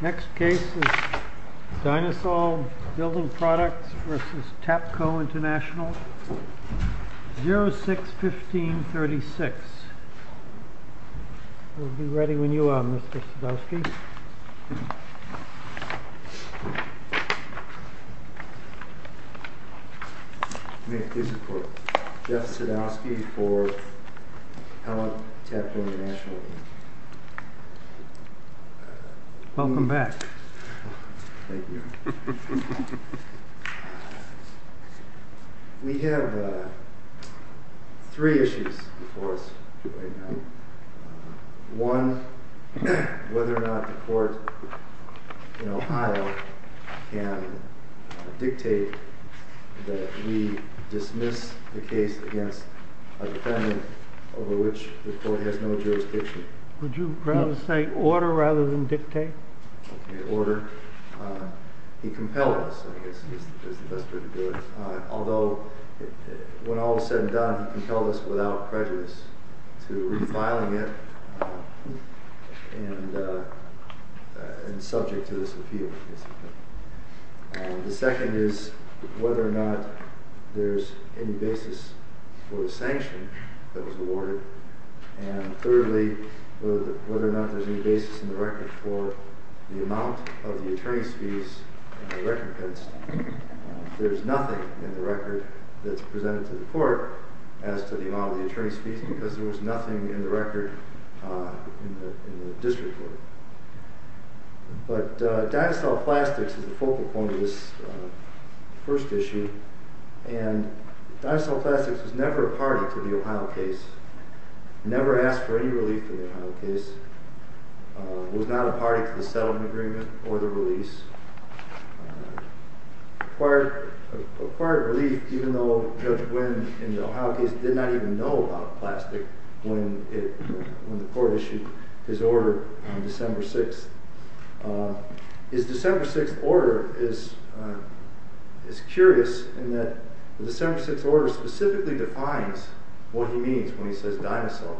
Next case is Dinosaur Building Products vs. Taps. Bibcode is 061536 We have three issues before us right now. One, whether or not the court in Ohio can dictate that we dismiss the case against a defendant over which the court has no jurisdiction. Would you rather say order rather than dictate? Okay, order. He compelled us, I guess is the best way to do it. Although, when all was said and done, he compelled us without prejudice to refiling it and subject to this appeal. The second is whether or not there's any basis for the sanction that was awarded. And thirdly, whether or not there's any basis in the record for the amount of the attorney's fees and the recompense. There's nothing in the record that's presented to the court as to the amount of the attorney's fees because there was nothing in the record in the district court. But dinosaur plastics is the focal point of this first issue. And dinosaur plastics was never a party to the Ohio case, never asked for any relief in the Ohio case, was not a party to the settlement agreement or the release. Acquired relief even though Judge Wynn in the Ohio case did not even know about plastic when the court issued his order on December 6th. His December 6th order is curious in that the December 6th order specifically defines what he means when he says dinosaur.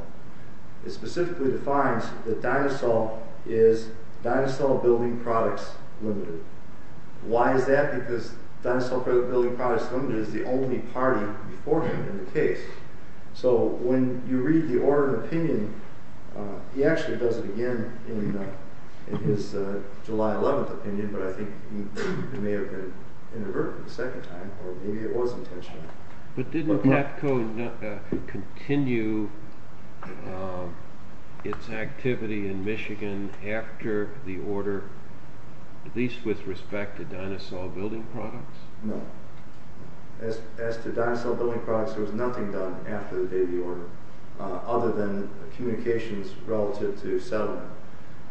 It specifically defines that dinosaur is dinosaur building products limited. Why is that? Because dinosaur building products limited is the only party before him in the case. So when you read the order of opinion, he actually does it again in his July 11th opinion, but I think he may have been inadvertent the second time or maybe it was intentional. But didn't TAPCO continue its activity in Michigan after the order, at least with respect to dinosaur building products? No. As to dinosaur building products, there was nothing done after the date of the order other than communications relative to settlement.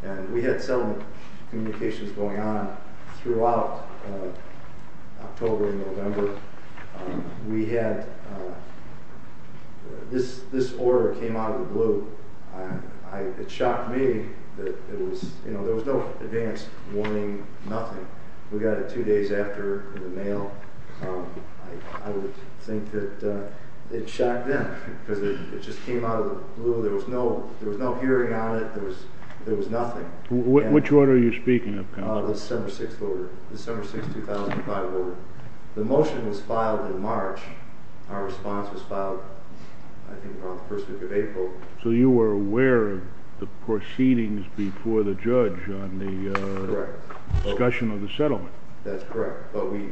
And we had settlement communications going on throughout October and November. This order came out of the blue. It shocked me that there was no advance warning, nothing. We got it two days after the mail. I would think that it shocked them because it just came out of the blue. There was no hearing on it. There was nothing. Which order are you speaking of? The December 6th 2005 order. The motion was filed in March. Our response was filed I think around the first week of April. So you were aware of the proceedings before the judge on the discussion of the settlement? That's correct. But we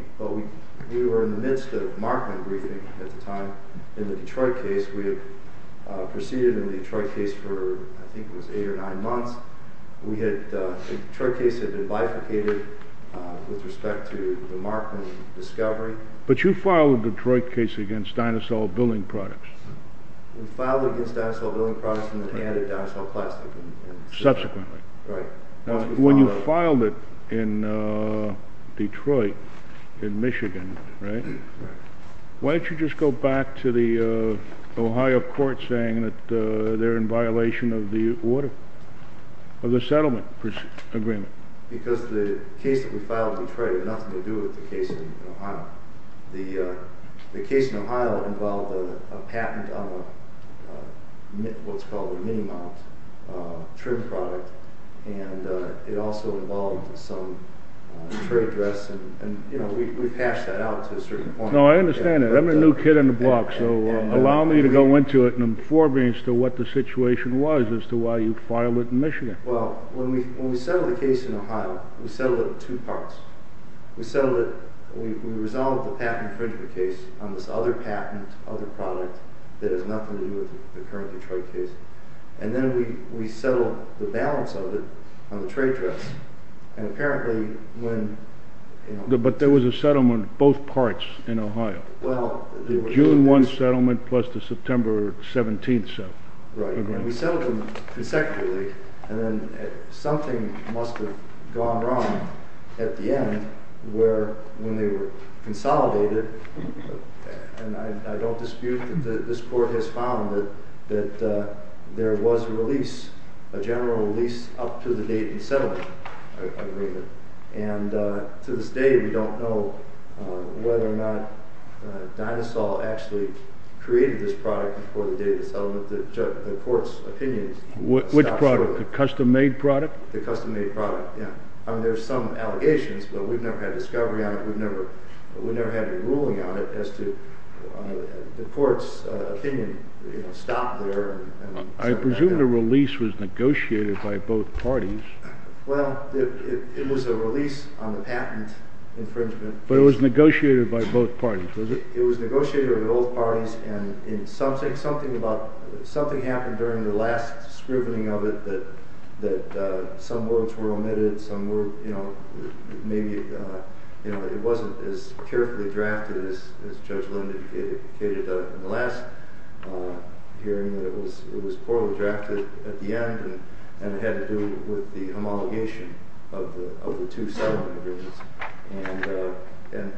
were in the midst of Markman briefing at the time. In the Detroit case, we had proceeded in the Detroit case for I think it was eight or nine months. The Detroit case had been bifurcated with respect to the Markman discovery. But you filed the Detroit case against dinosaur building products. We filed against dinosaur building products and then added dinosaur plastic. Subsequently. Right. When you filed it in Detroit, in Michigan, why don't you just go back to the Ohio court saying that they're in violation of the settlement agreement? Because the case that we filed in Detroit had nothing to do with the case in Ohio. The case in Ohio involved a patent on what's called a mini-mount trim product and it also involved some trade dress and we patched that out to a certain point. No, I understand that. I'm a new kid on the block so allow me to go into it in forbearance to what the situation was as to why you filed it in Michigan. Well, when we settled the case in Ohio, we settled it in two parts. We resolved the patent infringement case on this other patent, other product that has nothing to do with the current Detroit case. And then we settled the balance of it on the trade dress. But there was a settlement in both parts in Ohio. The June 1 settlement plus the September 17 settlement. Right. And we settled them consecutively and then something must have gone wrong at the end where when they were consolidated, and I don't dispute that this court has found that there was a release, a general release up to the date of the settlement agreement. And to this day we don't know whether or not Dynasol actually created this product before the date of the settlement that the court's opinion. Which product? The custom-made product? The custom-made product, yeah. I mean there's some allegations but we've never had discovery on it. We've never had a ruling on it as to the court's opinion, you know, stop there. I presume the release was negotiated by both parties. Well, it was a release on the patent infringement. But it was negotiated by both parties, was it? It was negotiated by both parties and something happened during the last scrubbing of it that some words were omitted, some were, you know, maybe it wasn't as carefully drafted as Judge Linden indicated in the last hearing. It was poorly drafted at the end and it had to do with the homologation of the two settlement agreements and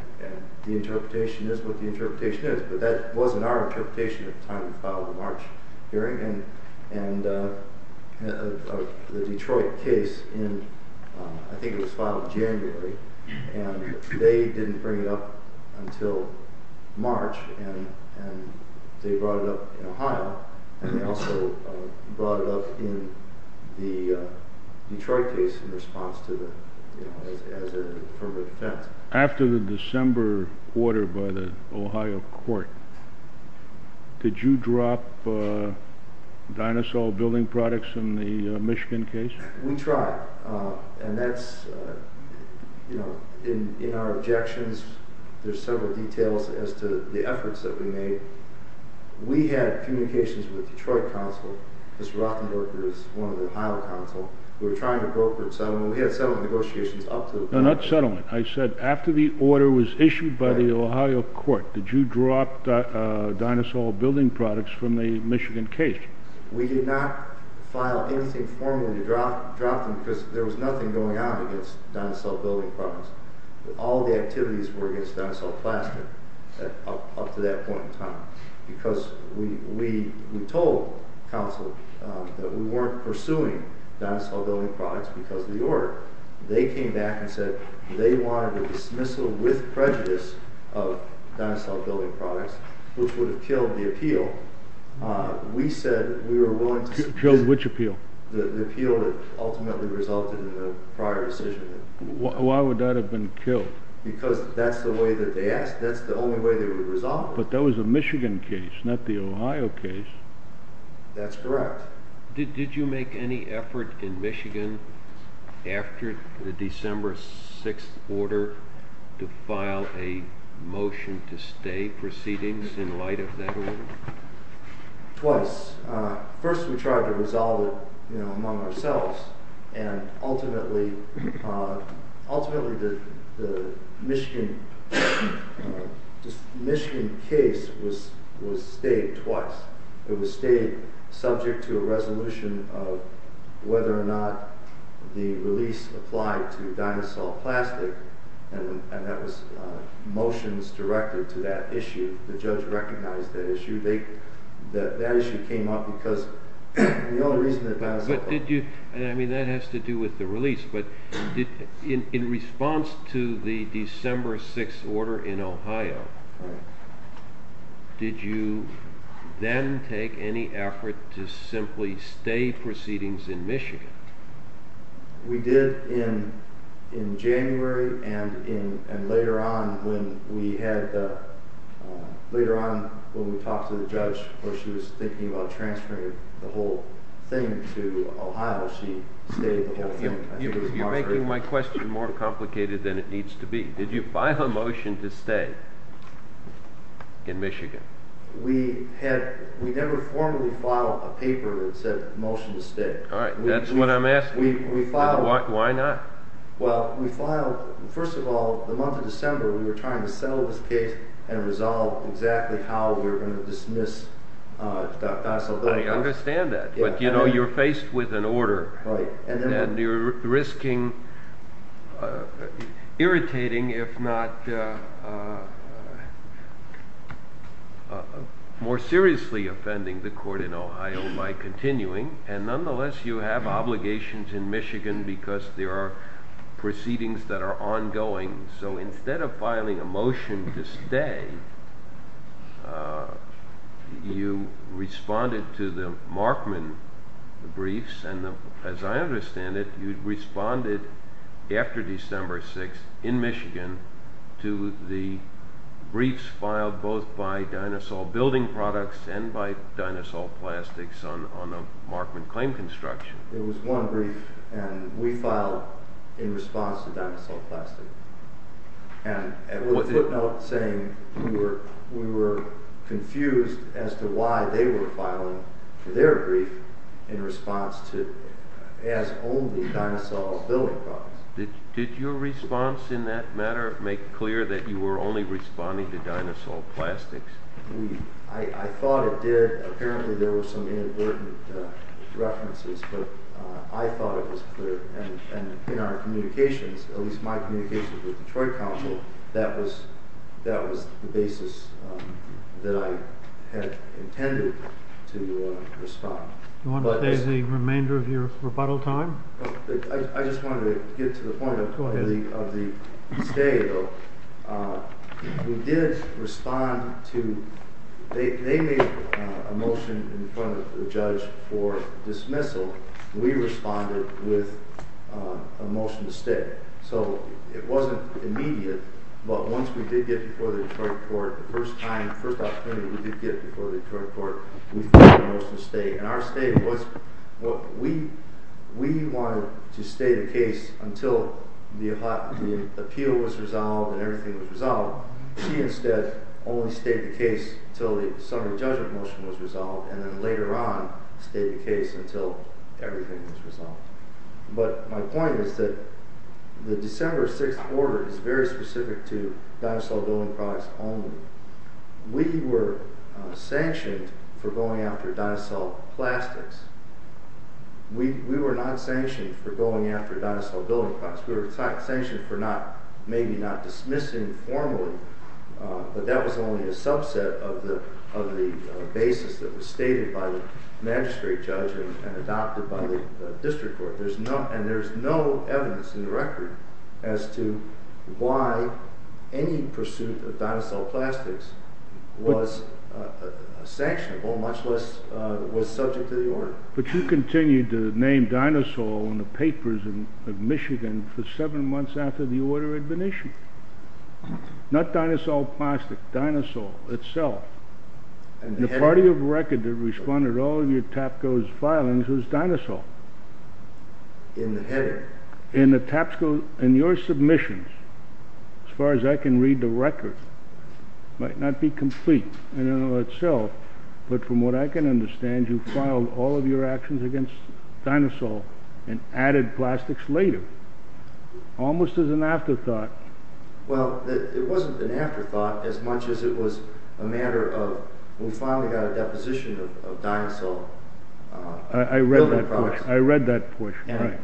the interpretation is what the interpretation is. But that wasn't our interpretation at the time we filed the March hearing and the Detroit case in, I think it was filed in January and they didn't bring it up until March and they brought it up in Ohio and they also brought it up in the Detroit case in response to the, you know, as an affirmative defense. After the December order by the Ohio court, did you drop dinosaur building products in the Michigan case? We tried and that's, you know, in our objections there's several details as to the efforts that we made. We had communications with Detroit counsel, Mr. Rothenberger is one of the Ohio counsel, we were trying to broker a settlement, we had settlement negotiations up to... Not settlement, I said after the order was issued by the Ohio court, did you drop dinosaur building products from the Michigan case? We did not file anything formally to drop them because there was nothing going on against dinosaur building products. All the activities were against dinosaur plastic up to that point in time because we told counsel that we weren't pursuing dinosaur building products because of the order. They came back and said they wanted a dismissal with prejudice of dinosaur building products which would have killed the appeal. We said we were willing to... Killed which appeal? The appeal that ultimately resulted in a prior decision. Why would that have been killed? Because that's the way that they asked, that's the only way they would resolve it. But that was a Michigan case, not the Ohio case. That's correct. Did you make any effort in Michigan after the December 6th order to file a motion to stay proceedings in light of that order? Twice. First we tried to resolve it among ourselves and ultimately the Michigan case was stayed twice. It was stayed subject to a resolution of whether or not the release applied to dinosaur plastic and that was motions directed to that issue. The judge recognized that issue. That issue came up because... That has to do with the release. In response to the December 6th order in Ohio, did you then take any effort to simply stay proceedings in Michigan? We did in January and later on when we talked to the judge where she was thinking about transferring the whole thing to Ohio, she stayed the whole thing. You're making my question more complicated than it needs to be. Did you file a motion to stay in Michigan? We never formally filed a paper that said motion to stay. That's what I'm asking. Why not? First of all, the month of December we were trying to settle this case and resolve exactly how we were going to dismiss dinosaur plastic. You're faced with an order and you're risking irritating if not more seriously offending the court in Ohio by continuing and nonetheless you have obligations in Michigan because there are proceedings that are ongoing. So instead of filing a motion to stay, you responded to the Markman briefs and as I understand it, you responded after December 6th in Michigan to the briefs filed both by Dinosaur Building Products and by Dinosaur Plastics on a Markman claim construction. There was one brief and we filed in response to Dinosaur Plastics and with a footnote saying we were confused as to why they were filing their brief in response to as only Dinosaur Building Products. Did your response in that matter make clear that you were only responding to Dinosaur Plastics? I thought it did. Apparently there were some inadvertent references but I thought it was clear and in our communications, at least my communications with the Detroit Council, that was the basis that I had intended to respond. Do you want to stay the remainder of your rebuttal time? I just wanted to get to the point of the stay though. We did respond to, they made a motion in front of the judge for dismissal. We responded with a motion to stay. So it wasn't immediate but once we did get before the Detroit court, the first time, the first opportunity we did get before the Detroit court, we filed a motion to stay and our stay was, we wanted to stay the case until the appeal was resolved and everything was resolved. She instead only stayed the case until the summary judgment motion was resolved and then later on stayed the case until everything was resolved. But my point is that the December 6th order is very specific to Dinosaur Building Products only. We were sanctioned for going after Dinosaur Plastics. We were not sanctioned for going after Dinosaur Building Products. We were sanctioned for maybe not dismissing formally but that was only a subset of the basis that was stated by the magistrate judge and adopted by the district court. And there's no evidence in the record as to why any pursuit of Dinosaur Plastics was sanctionable much less was subject to the order. But you continued to name Dinosaur in the papers of Michigan for seven months after the order had been issued. Not Dinosaur Plastics, Dinosaur itself. And the party of record that responded to all of your TAPCO's filings was Dinosaur. In the heading. Well it wasn't an afterthought as much as it was a matter of we finally got a deposition of Dinosaur Building Products.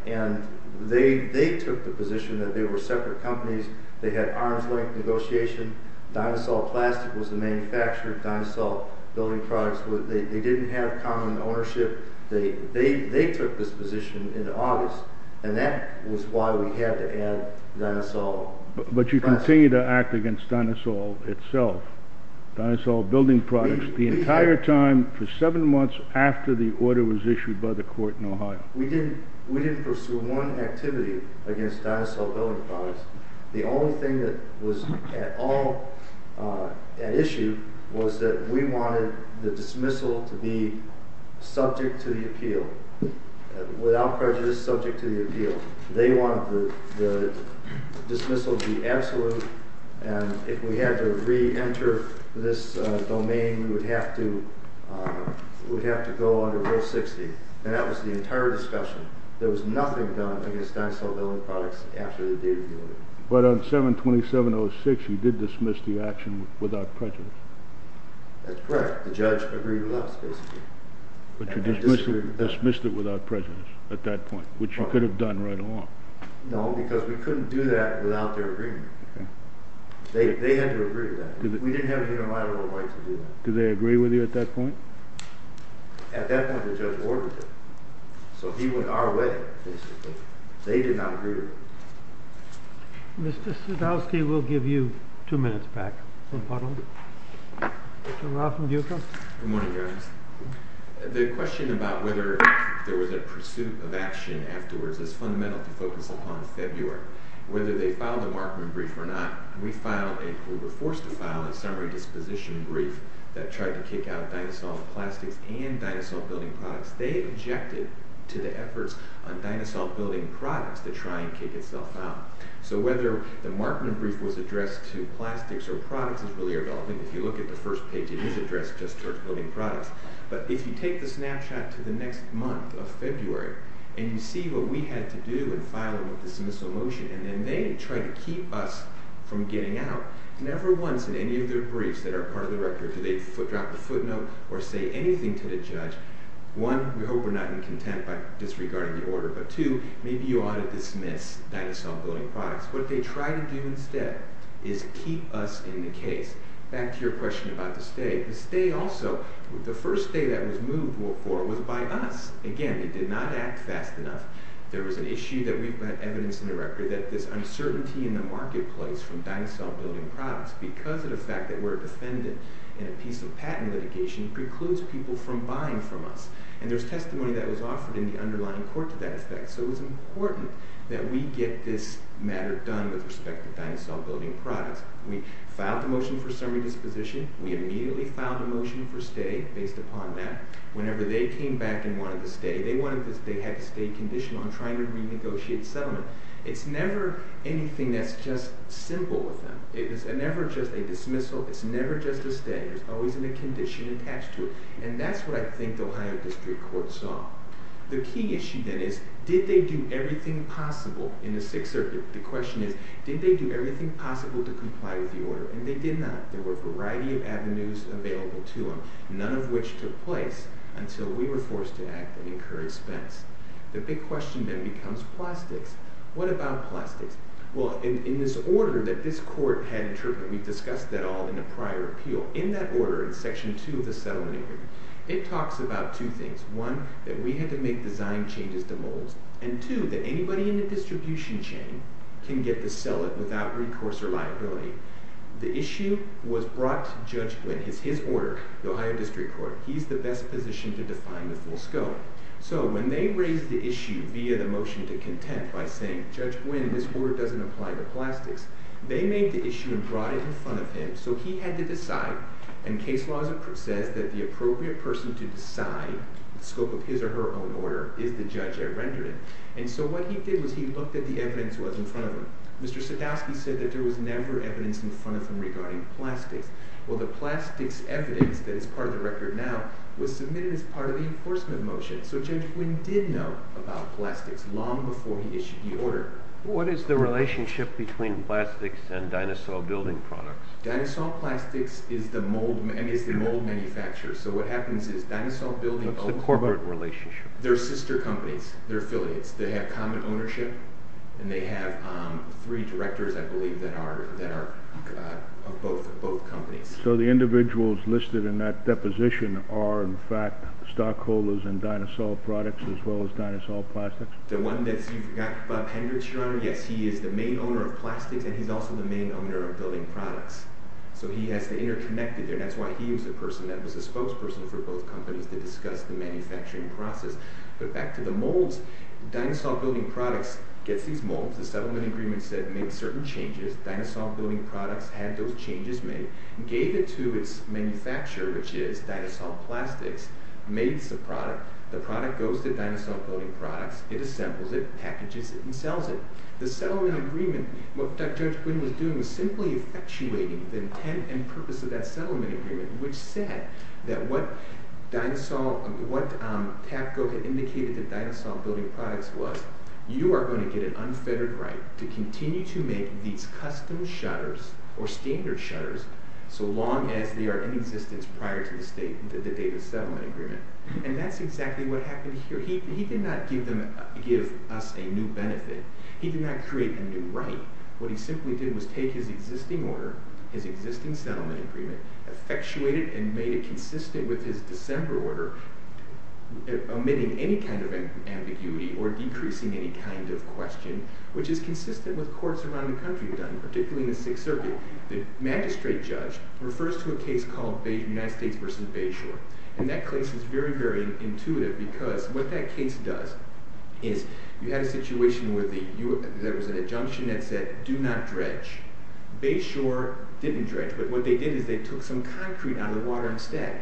And they took the position that they were separate companies. They had arm's length negotiation. Dinosaur Plastics was the manufacturer of Dinosaur Building Products. They didn't have common ownership. They took this position in August and that was why we had to add Dinosaur Plastics. But you continued to act against Dinosaur itself. Dinosaur Building Products the entire time for seven months after the order was issued by the court in Ohio. We didn't pursue one activity against Dinosaur Building Products. The only thing that was at issue was that we wanted the dismissal to be subject to the appeal. Without prejudice subject to the appeal. They wanted the dismissal to be absolute and if we had to re-enter this domain we would have to go under Rule 60. And that was the entire discussion. There was nothing done against Dinosaur Building Products after the date of the order. But on 7-2706 you did dismiss the action without prejudice. That's correct. The judge agreed with us basically. But you dismissed it without prejudice at that point which you could have done right along. No because we couldn't do that without their agreement. They had to agree to that. We didn't have a unilateral right to do that. Did they agree with you at that point? At that point the judge ordered it. So he went our way basically. They did not agree to it. Mr. Sadowski we'll give you two minutes back. Good morning guys. The question about whether there was a pursuit of action afterwards is fundamental to focus upon February. Whether they filed a Markman brief or not, we were forced to file a summary disposition brief that tried to kick out Dinosaur Plastics and Dinosaur Building Products. They objected to the efforts on Dinosaur Building Products to try and kick itself out. So whether the Markman brief was addressed to plastics or products is really irrelevant. If you look at the first page it is addressed just towards building products. But if you take the snapshot to the next month of February and you see what we had to do in filing the dismissal motion and then they try to keep us from getting out, never once in any of their briefs that are part of the record do they drop a footnote or say anything to the judge. One, we hope we're not in contempt by disregarding the order, but two, maybe you ought to dismiss Dinosaur Building Products. What they try to do instead is keep us in the case. Back to your question about the stay. The first stay that was moved for was by us. Again, we did not act fast enough. There was an issue that we had evidence in the record that this uncertainty in the marketplace from Dinosaur Building Products because of the fact that we're a defendant in a piece of patent litigation precludes people from buying from us. And there's testimony that was offered in the underlying court to that effect. So it was important that we get this matter done with respect to Dinosaur Building Products. We filed the motion for summary disposition. We immediately filed a motion for stay based upon that. Whenever they came back and wanted to stay, they had to stay conditioned on trying to renegotiate settlement. It's never anything that's just simple with them. It's never just a dismissal. It's never just a stay. There's always a condition attached to it. And that's what I think the Ohio District Court saw. The key issue then is, did they do everything possible in the Sixth Circuit? The question is, did they do everything possible to comply with the order? And they did not. There were a variety of avenues available to them, none of which took place until we were forced to act and incur expense. The big question then becomes plastics. What about plastics? Well, in this order that this court had interpreted, we've discussed that all in a prior appeal. In that order, in Section 2 of the Settlement Agreement, it talks about two things. One, that we had to make design changes to molds. And two, that anybody in the distribution chain can get to sell it without recourse or liability. The issue was brought to Judge Glynn. It's his order, the Ohio District Court. He's the best position to define the full scope. So when they raised the issue via the motion to content by saying, Judge Glynn, this order doesn't apply to plastics, they made the issue and brought it in front of him. So he had to decide. And case law says that the appropriate person to decide the scope of his or her own order is the judge at rendering. And so what he did was he looked at the evidence that was in front of him. Mr. Sadowski said that there was never evidence in front of him regarding plastics. Well, the plastics evidence that is part of the record now was submitted as part of the enforcement motion. So Judge Glynn did know about plastics long before he issued the order. What is the relationship between plastics and dinosaur building products? Dinosaur plastics is the mold manufacturer. So what happens is dinosaur building... What's the corporate relationship? They're sister companies. They're affiliates. They have common ownership and they have three directors, I believe, that are of both companies. So the individuals listed in that deposition are, in fact, stockholders in dinosaur products as well as dinosaur plastics? The one that you forgot, Bob Hendricks, Your Honor, yes. He is the main owner of plastics and he's also the main owner of building products. So he has to interconnect it and that's why he was the person that was the spokesperson for both companies to discuss the manufacturing process. But back to the molds. Dinosaur building products gets these molds. The settlement agreement said make certain changes. Dinosaur building products had those changes made, gave it to its manufacturer, which is dinosaur plastics, made the product. The product goes to dinosaur building products. It assembles it, packages it, and sells it. The settlement agreement, what Judge Glynn was doing was simply effectuating the intent and purpose of that settlement agreement, which said that what TAPCO had indicated that dinosaur building products was, you are going to get an unfettered right to continue to make these custom shutters or standard shutters so long as they are in existence prior to the date of the settlement agreement. And that's exactly what happened here. He did not give us a new benefit. He did not create a new right. What he simply did was take his existing order, his existing settlement agreement, effectuated and made it consistent with his December order, omitting any kind of ambiguity or decreasing any kind of question, which is consistent with courts around the country have done, particularly in the Sixth Circuit. The magistrate judge refers to a case called United States v. Bayshore. And that case is very, very intuitive because what that case does is you had a situation where there was an injunction that said do not dredge. Bayshore didn't dredge, but what they did is they took some concrete out of the water instead.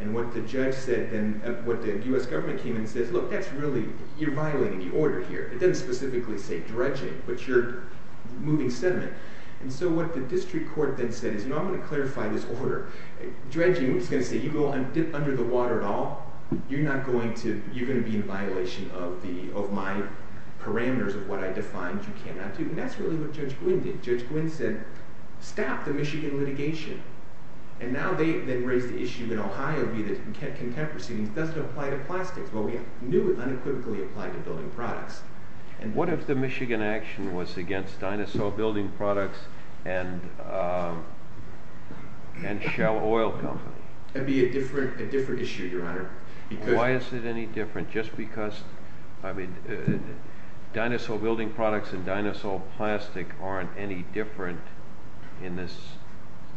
And what the judge said then, what the U.S. government came and said, look, that's really, you're violating the order here. It doesn't specifically say dredging, but you're moving sediment. And so what the district court then said is, you know, I'm going to clarify this order. Dredging is going to say you go and dip under the water at all, you're not going to, you're going to be in violation of my parameters of what I defined you cannot do. And that's really what Judge Gwynne did. Judge Gwynne said stop the Michigan litigation. And now they've raised the issue in Ohio, be it a contemporary, it doesn't apply to plastics. Well, we knew it unequivocally applied to building products. And what if the Michigan action was against dinosaur building products and Shell Oil Company? That would be a different issue, Your Honor. Why is it any different? Just because, I mean, dinosaur building products and dinosaur plastic aren't any different in this,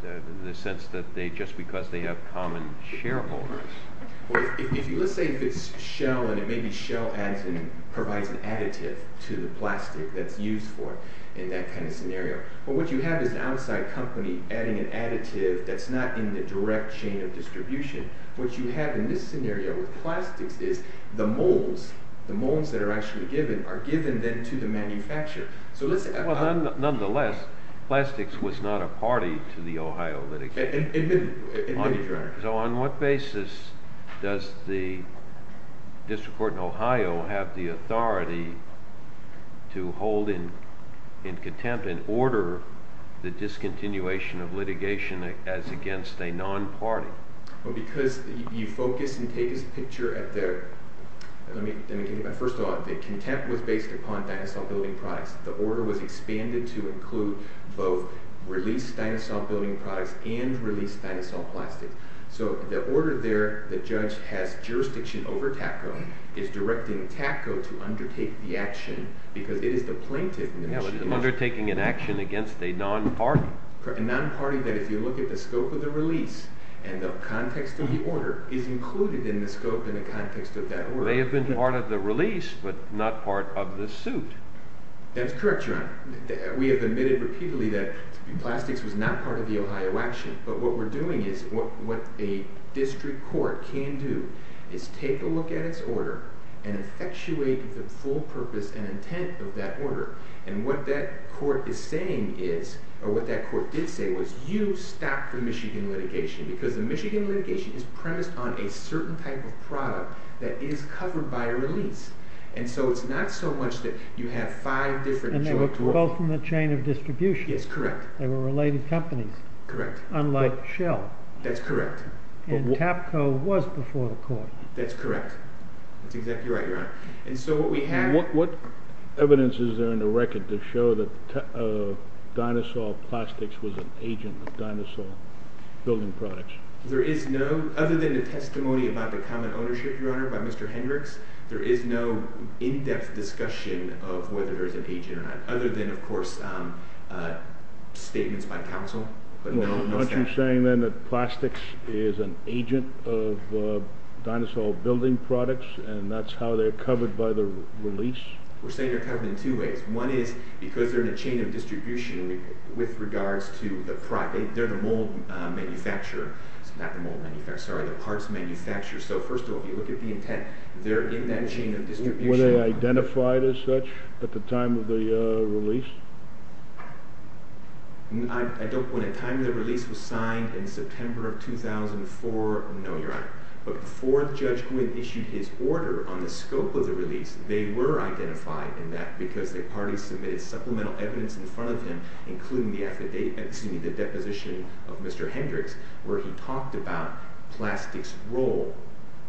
in the sense that they, just because they have common shareholders. If you, let's say if it's Shell and it may be Shell adds in, provides an additive to the plastic that's used for in that kind of scenario. But what you have is an outside company adding an additive that's not in the direct chain of distribution. What you have in this scenario with plastics is the molds, the molds that are actually given are given then to the manufacturer. So let's say- Nonetheless, plastics was not a party to the Ohio litigation. Admittedly, Your Honor. So on what basis does the District Court in Ohio have the authority to hold in contempt and order the discontinuation of litigation as against a non-party? Well, because you focus and take a picture at the, let me give you that. First of all, the contempt was based upon dinosaur building products. The order was expanded to include both released dinosaur building products and released dinosaur plastic. So the order there, the judge has jurisdiction over TACO, is directing TACO to undertake the action because it is the plaintiff- Yeah, undertaking an action against a non-party. A non-party that if you look at the scope of the release and the context of the order is included in the scope and the context of that order. They have been part of the release but not part of the suit. That's correct, Your Honor. We have admitted repeatedly that plastics was not part of the Ohio action. But what we're doing is what a district court can do is take a look at its order and effectuate the full purpose and intent of that order. And what that court is saying is, or what that court did say, was you stop the Michigan litigation. Because the Michigan litigation is premised on a certain type of product that is covered by a release. And so it's not so much that you have five different- And they were both in the chain of distribution. Yes, correct. They were related companies. Correct. Unlike Shell. That's correct. And TAPCO was before the court. That's correct. That's exactly right, Your Honor. What evidence is there in the record to show that Dinosaur Plastics was an agent of Dinosaur Building Products? There is no, other than the testimony about the common ownership, Your Honor, by Mr. Hendricks, there is no in-depth discussion of whether there is an agent or not. Other than, of course, statements by counsel. Aren't you saying then that Plastics is an agent of Dinosaur Building Products and that's how they're covered by the release? We're saying they're covered in two ways. One is because they're in a chain of distribution with regards to the product. They're the mold manufacturer. Not the mold manufacturer, sorry, the parts manufacturer. So first of all, if you look at the intent, they're in that chain of distribution. Were they identified as such at the time of the release? I don't know. At the time the release was signed, in September of 2004, no, Your Honor. But before Judge Quinn issued his order on the scope of the release, they were identified in that because they partly submitted supplemental evidence in front of him, including the deposition of Mr. Hendricks where he talked about Plastics' role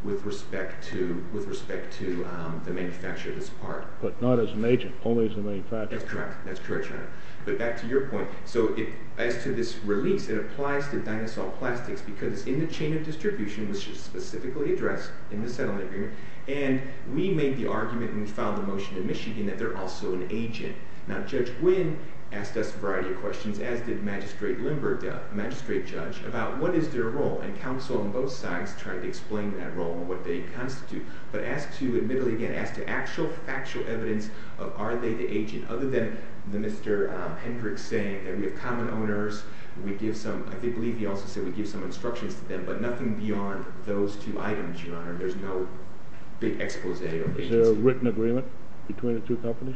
with respect to the manufacture of this part. But not as an agent, only as a manufacturer. That's correct. That's correct, Your Honor. But back to your point. So as to this release, it applies to Dinosaur Plastics because it's in the chain of distribution, which is specifically addressed in the settlement agreement. And we made the argument when we filed the motion to Michigan that they're also an agent. Now Judge Quinn asked us a variety of questions, as did Magistrate Lindbergh, the magistrate judge, about what is their role. And counsel on both sides tried to explain that role and what they constitute. But as to, admittedly again, as to actual factual evidence of are they the agent, other than Mr. Hendricks saying that we have common owners, we give some, I believe he also said we give some instructions to them, but nothing beyond those two items, Your Honor. There's no big expose or agency. Is there a written agreement between the two companies?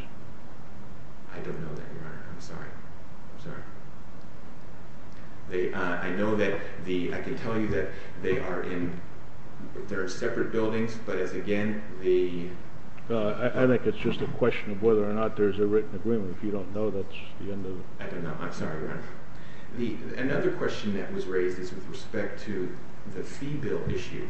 I don't know that, Your Honor. I'm sorry. I'm sorry. I know that the, I can tell you that they are in, they're in separate buildings, but as again, the... I think it's just a question of whether or not there's a written agreement. If you don't know, that's the end of it. I don't know. I'm sorry, Your Honor. Another question that was raised is with respect to the fee bill issue.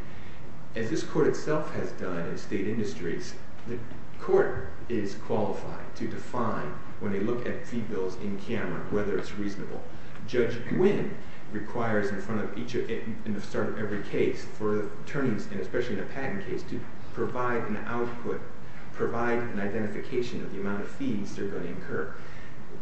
As this court itself has done in state industries, the court is qualified to define when they look at fee bills in camera whether it's reasonable. Judge Gwynne requires in front of each, in the start of every case for attorneys, and especially in a patent case, to provide an output, provide an identification of the amount of fees they're going to incur.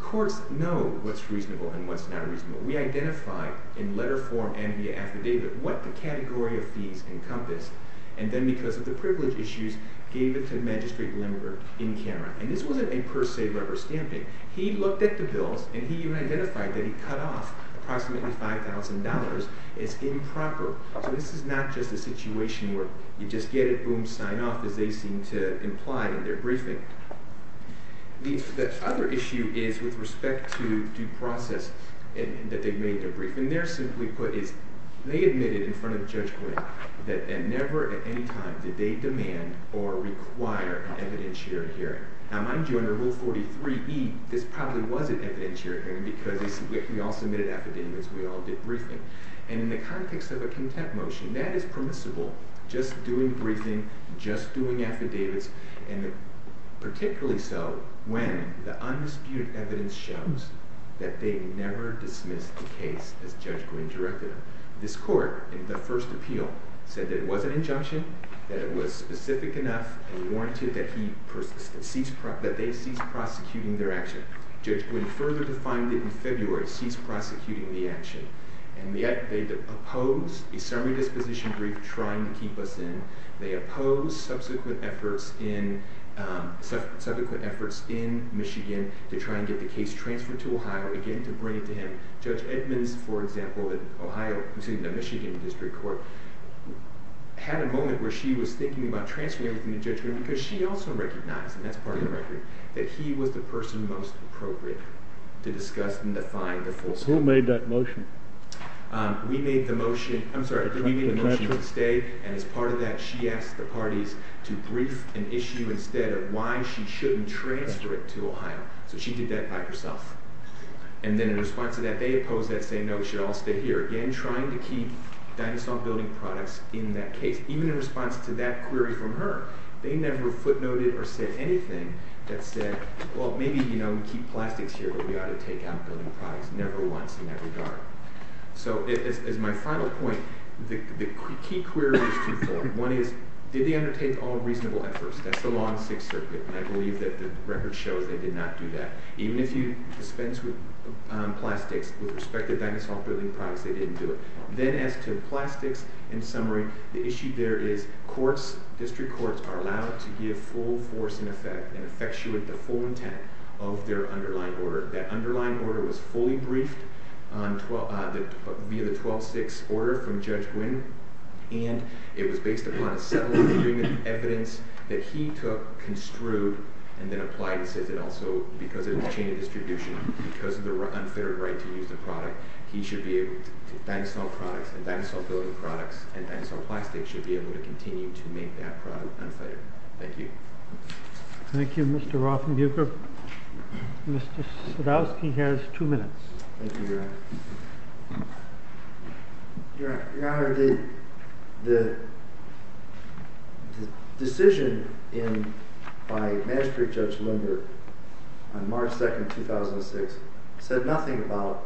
Courts know what's reasonable and what's not reasonable. We identify in letter form and via affidavit what the category of fees encompass, and then because of the privilege issues, gave it to the magistrate limiter in camera. And this wasn't a per se rubber stamping. He looked at the bills, and he even identified that he cut off approximately $5,000. It's improper. So this is not just a situation where you just get it, boom, sign off, as they seem to imply in their briefing. The other issue is with respect to due process that they've made in their briefing. They're simply put is they admitted in front of Judge Gwynne that never at any time did they demand or require an evidence-sharing hearing. Now, mind you, under Rule 43e, this probably was an evidence-sharing hearing because we all submitted affidavits, we all did briefing. And in the context of a contempt motion, that is permissible. Just doing briefing, just doing affidavits, and particularly so when the undisputed evidence shows that they never dismissed the case as Judge Gwynne directed them. This court in the first appeal said that it was an injunction, that it was specific enough and warranted that they cease prosecuting their action. Judge Gwynne further defined it in February, cease prosecuting the action. And yet they opposed a summary disposition brief trying to keep us in. They opposed subsequent efforts in Michigan to try and get the case transferred to Ohio again to bring it to him. Judge Edmonds, for example, in the Michigan District Court, had a moment where she was thinking about transferring everything to Judge Gwynne because she also recognized, and that's part of the record, that he was the person most appropriate to discuss and define the full summary. Who made that motion? We made the motion, I'm sorry, we made the motion to stay. And as part of that, she asked the parties to brief an issue instead of why she shouldn't transfer it to Ohio. So she did that by herself. And then in response to that, they opposed that saying, no, we should all stay here. Again, trying to keep Dinosaur Building Products in that case. Even in response to that query from her, they never footnoted or said anything that said, well, maybe, you know, we keep plastics here, but we ought to take out building products. Never once in that regard. So as my final point, the key query is twofold. One is, did they undertake all reasonable efforts? That's the law in Sixth Circuit, and I believe that the record shows they did not do that. Even if you dispense with plastics with respect to Dinosaur Building Products, they didn't do it. Then as to plastics and summary, the issue there is courts, district courts, are allowed to give full force and effect and effectuate the full intent of their underlying order. That underlying order was fully briefed via the 12-6 order from Judge Wynn, and it was based upon a set of evidence that he took, construed, and then applied, and says that also because of the chain of distribution, because of the unfettered right to use the product, he should be able to, Dinosaur Products and Dinosaur Building Products and Dinosaur Plastics should be able to continue to make that product unfettered. Thank you. Thank you, Mr. Rothenbuecher. Mr. Sadowski has two minutes. Thank you, Your Honor. Your Honor, the decision by Magistrate Judge Lindberg on March 2, 2006, said nothing about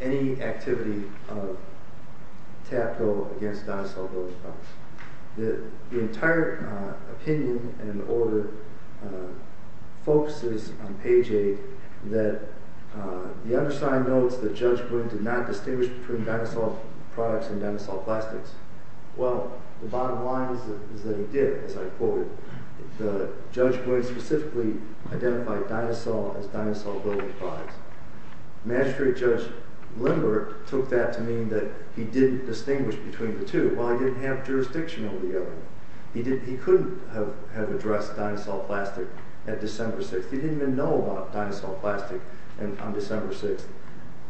any activity of TAP Bill against Dinosaur Building Products. The entire opinion and order focuses on page 8 that the undersigned notes that Judge Wynn did not distinguish between Dinosaur Products and Dinosaur Plastics. Well, the bottom line is that he did, as I quoted. Judge Wynn specifically identified Dinosaur as Dinosaur Building Products. Magistrate Judge Lindberg took that to mean that he didn't distinguish between the two. Well, he didn't have jurisdiction over the other one. He couldn't have addressed Dinosaur Plastic at December 6. He didn't even know about Dinosaur Plastic on December 6.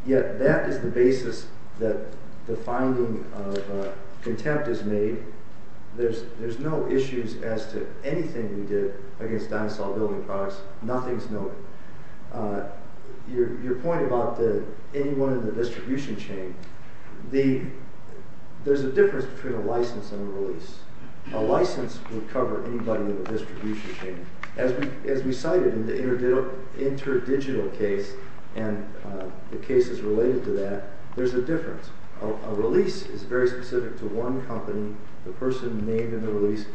Yet, that is the basis that the finding of contempt is made. There's no issues as to anything we did against Dinosaur Building Products. Nothing's noted. Your point about anyone in the distribution chain, there's a difference between a license and a release. A license would cover anybody in the distribution chain. As we cited in the interdigital case and the cases related to that, there's a difference. A release is very specific to one company, the person named in the release,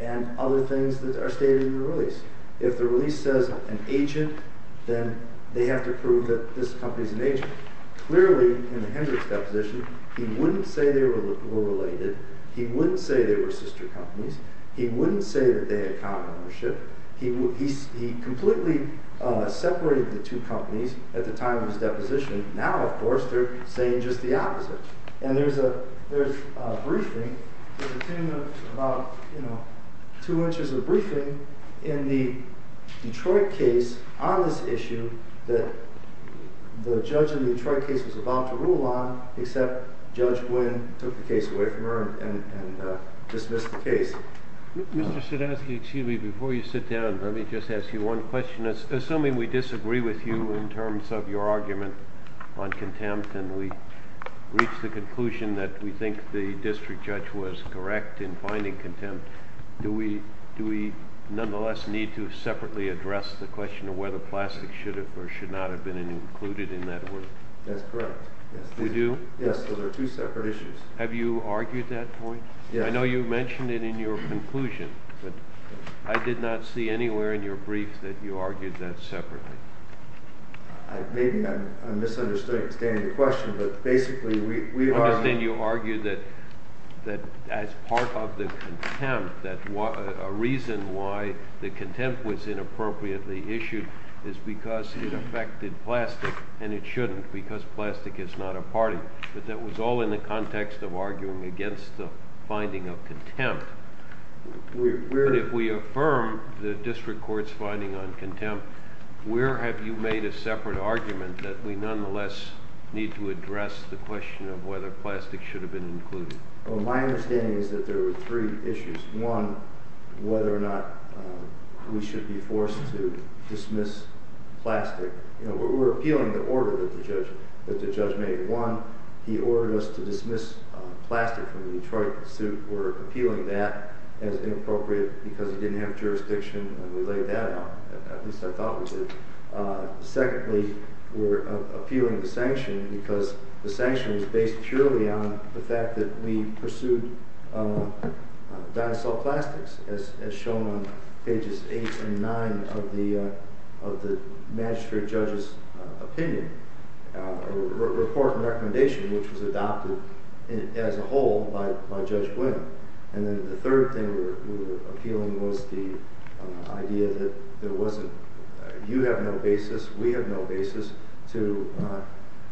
and other things that are stated in the release. If the release says an agent, then they have to prove that this company is an agent. Clearly, in the Hendricks deposition, he wouldn't say they were related. He wouldn't say they were sister companies. He wouldn't say that they had common ownership. He completely separated the two companies at the time of his deposition. There's a briefing, about two inches of briefing, in the Detroit case on this issue that the judge in the Detroit case was about to rule on, except Judge Nguyen took the case away from her and dismissed the case. Mr. Siedanski, excuse me. Before you sit down, let me just ask you one question. Assuming we disagree with you in terms of your argument on contempt and we reach the conclusion that we think the district judge was correct in finding contempt, do we nonetheless need to separately address the question of whether plastic should have or should not have been included in that work? That's correct. We do? Yes, those are two separate issues. Have you argued that point? Yes. I know you mentioned it in your conclusion, but I did not see anywhere in your brief that you argued that separately. Maybe I'm misunderstanding the question, but basically we are— I understand you argued that as part of the contempt, that a reason why the contempt was inappropriately issued is because it affected plastic, and it shouldn't because plastic is not a party. But that was all in the context of arguing against the finding of contempt. But if we affirm the district court's finding on contempt, where have you made a separate argument that we nonetheless need to address the question of whether plastic should have been included? My understanding is that there were three issues. One, whether or not we should be forced to dismiss plastic. We're appealing the order that the judge made. One, he ordered us to dismiss plastic from the Detroit suit. We're appealing that as inappropriate because he didn't have jurisdiction, and we laid that out, at least I thought we did. Secondly, we're appealing the sanction because the sanction is based purely on the fact that we pursued dinosaur plastics, as shown on pages 8 and 9 of the magistrate judge's opinion, a report and recommendation which was adopted as a whole by Judge Glynn. And then the third thing we were appealing was the idea that there wasn't, you have no basis, we have no basis, to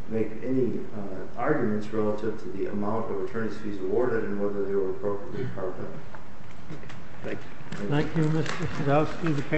make any arguments relative to the amount of attorney's fees awarded and whether they were appropriately carved up. Thank you. Thank you, Mr. Sadowski.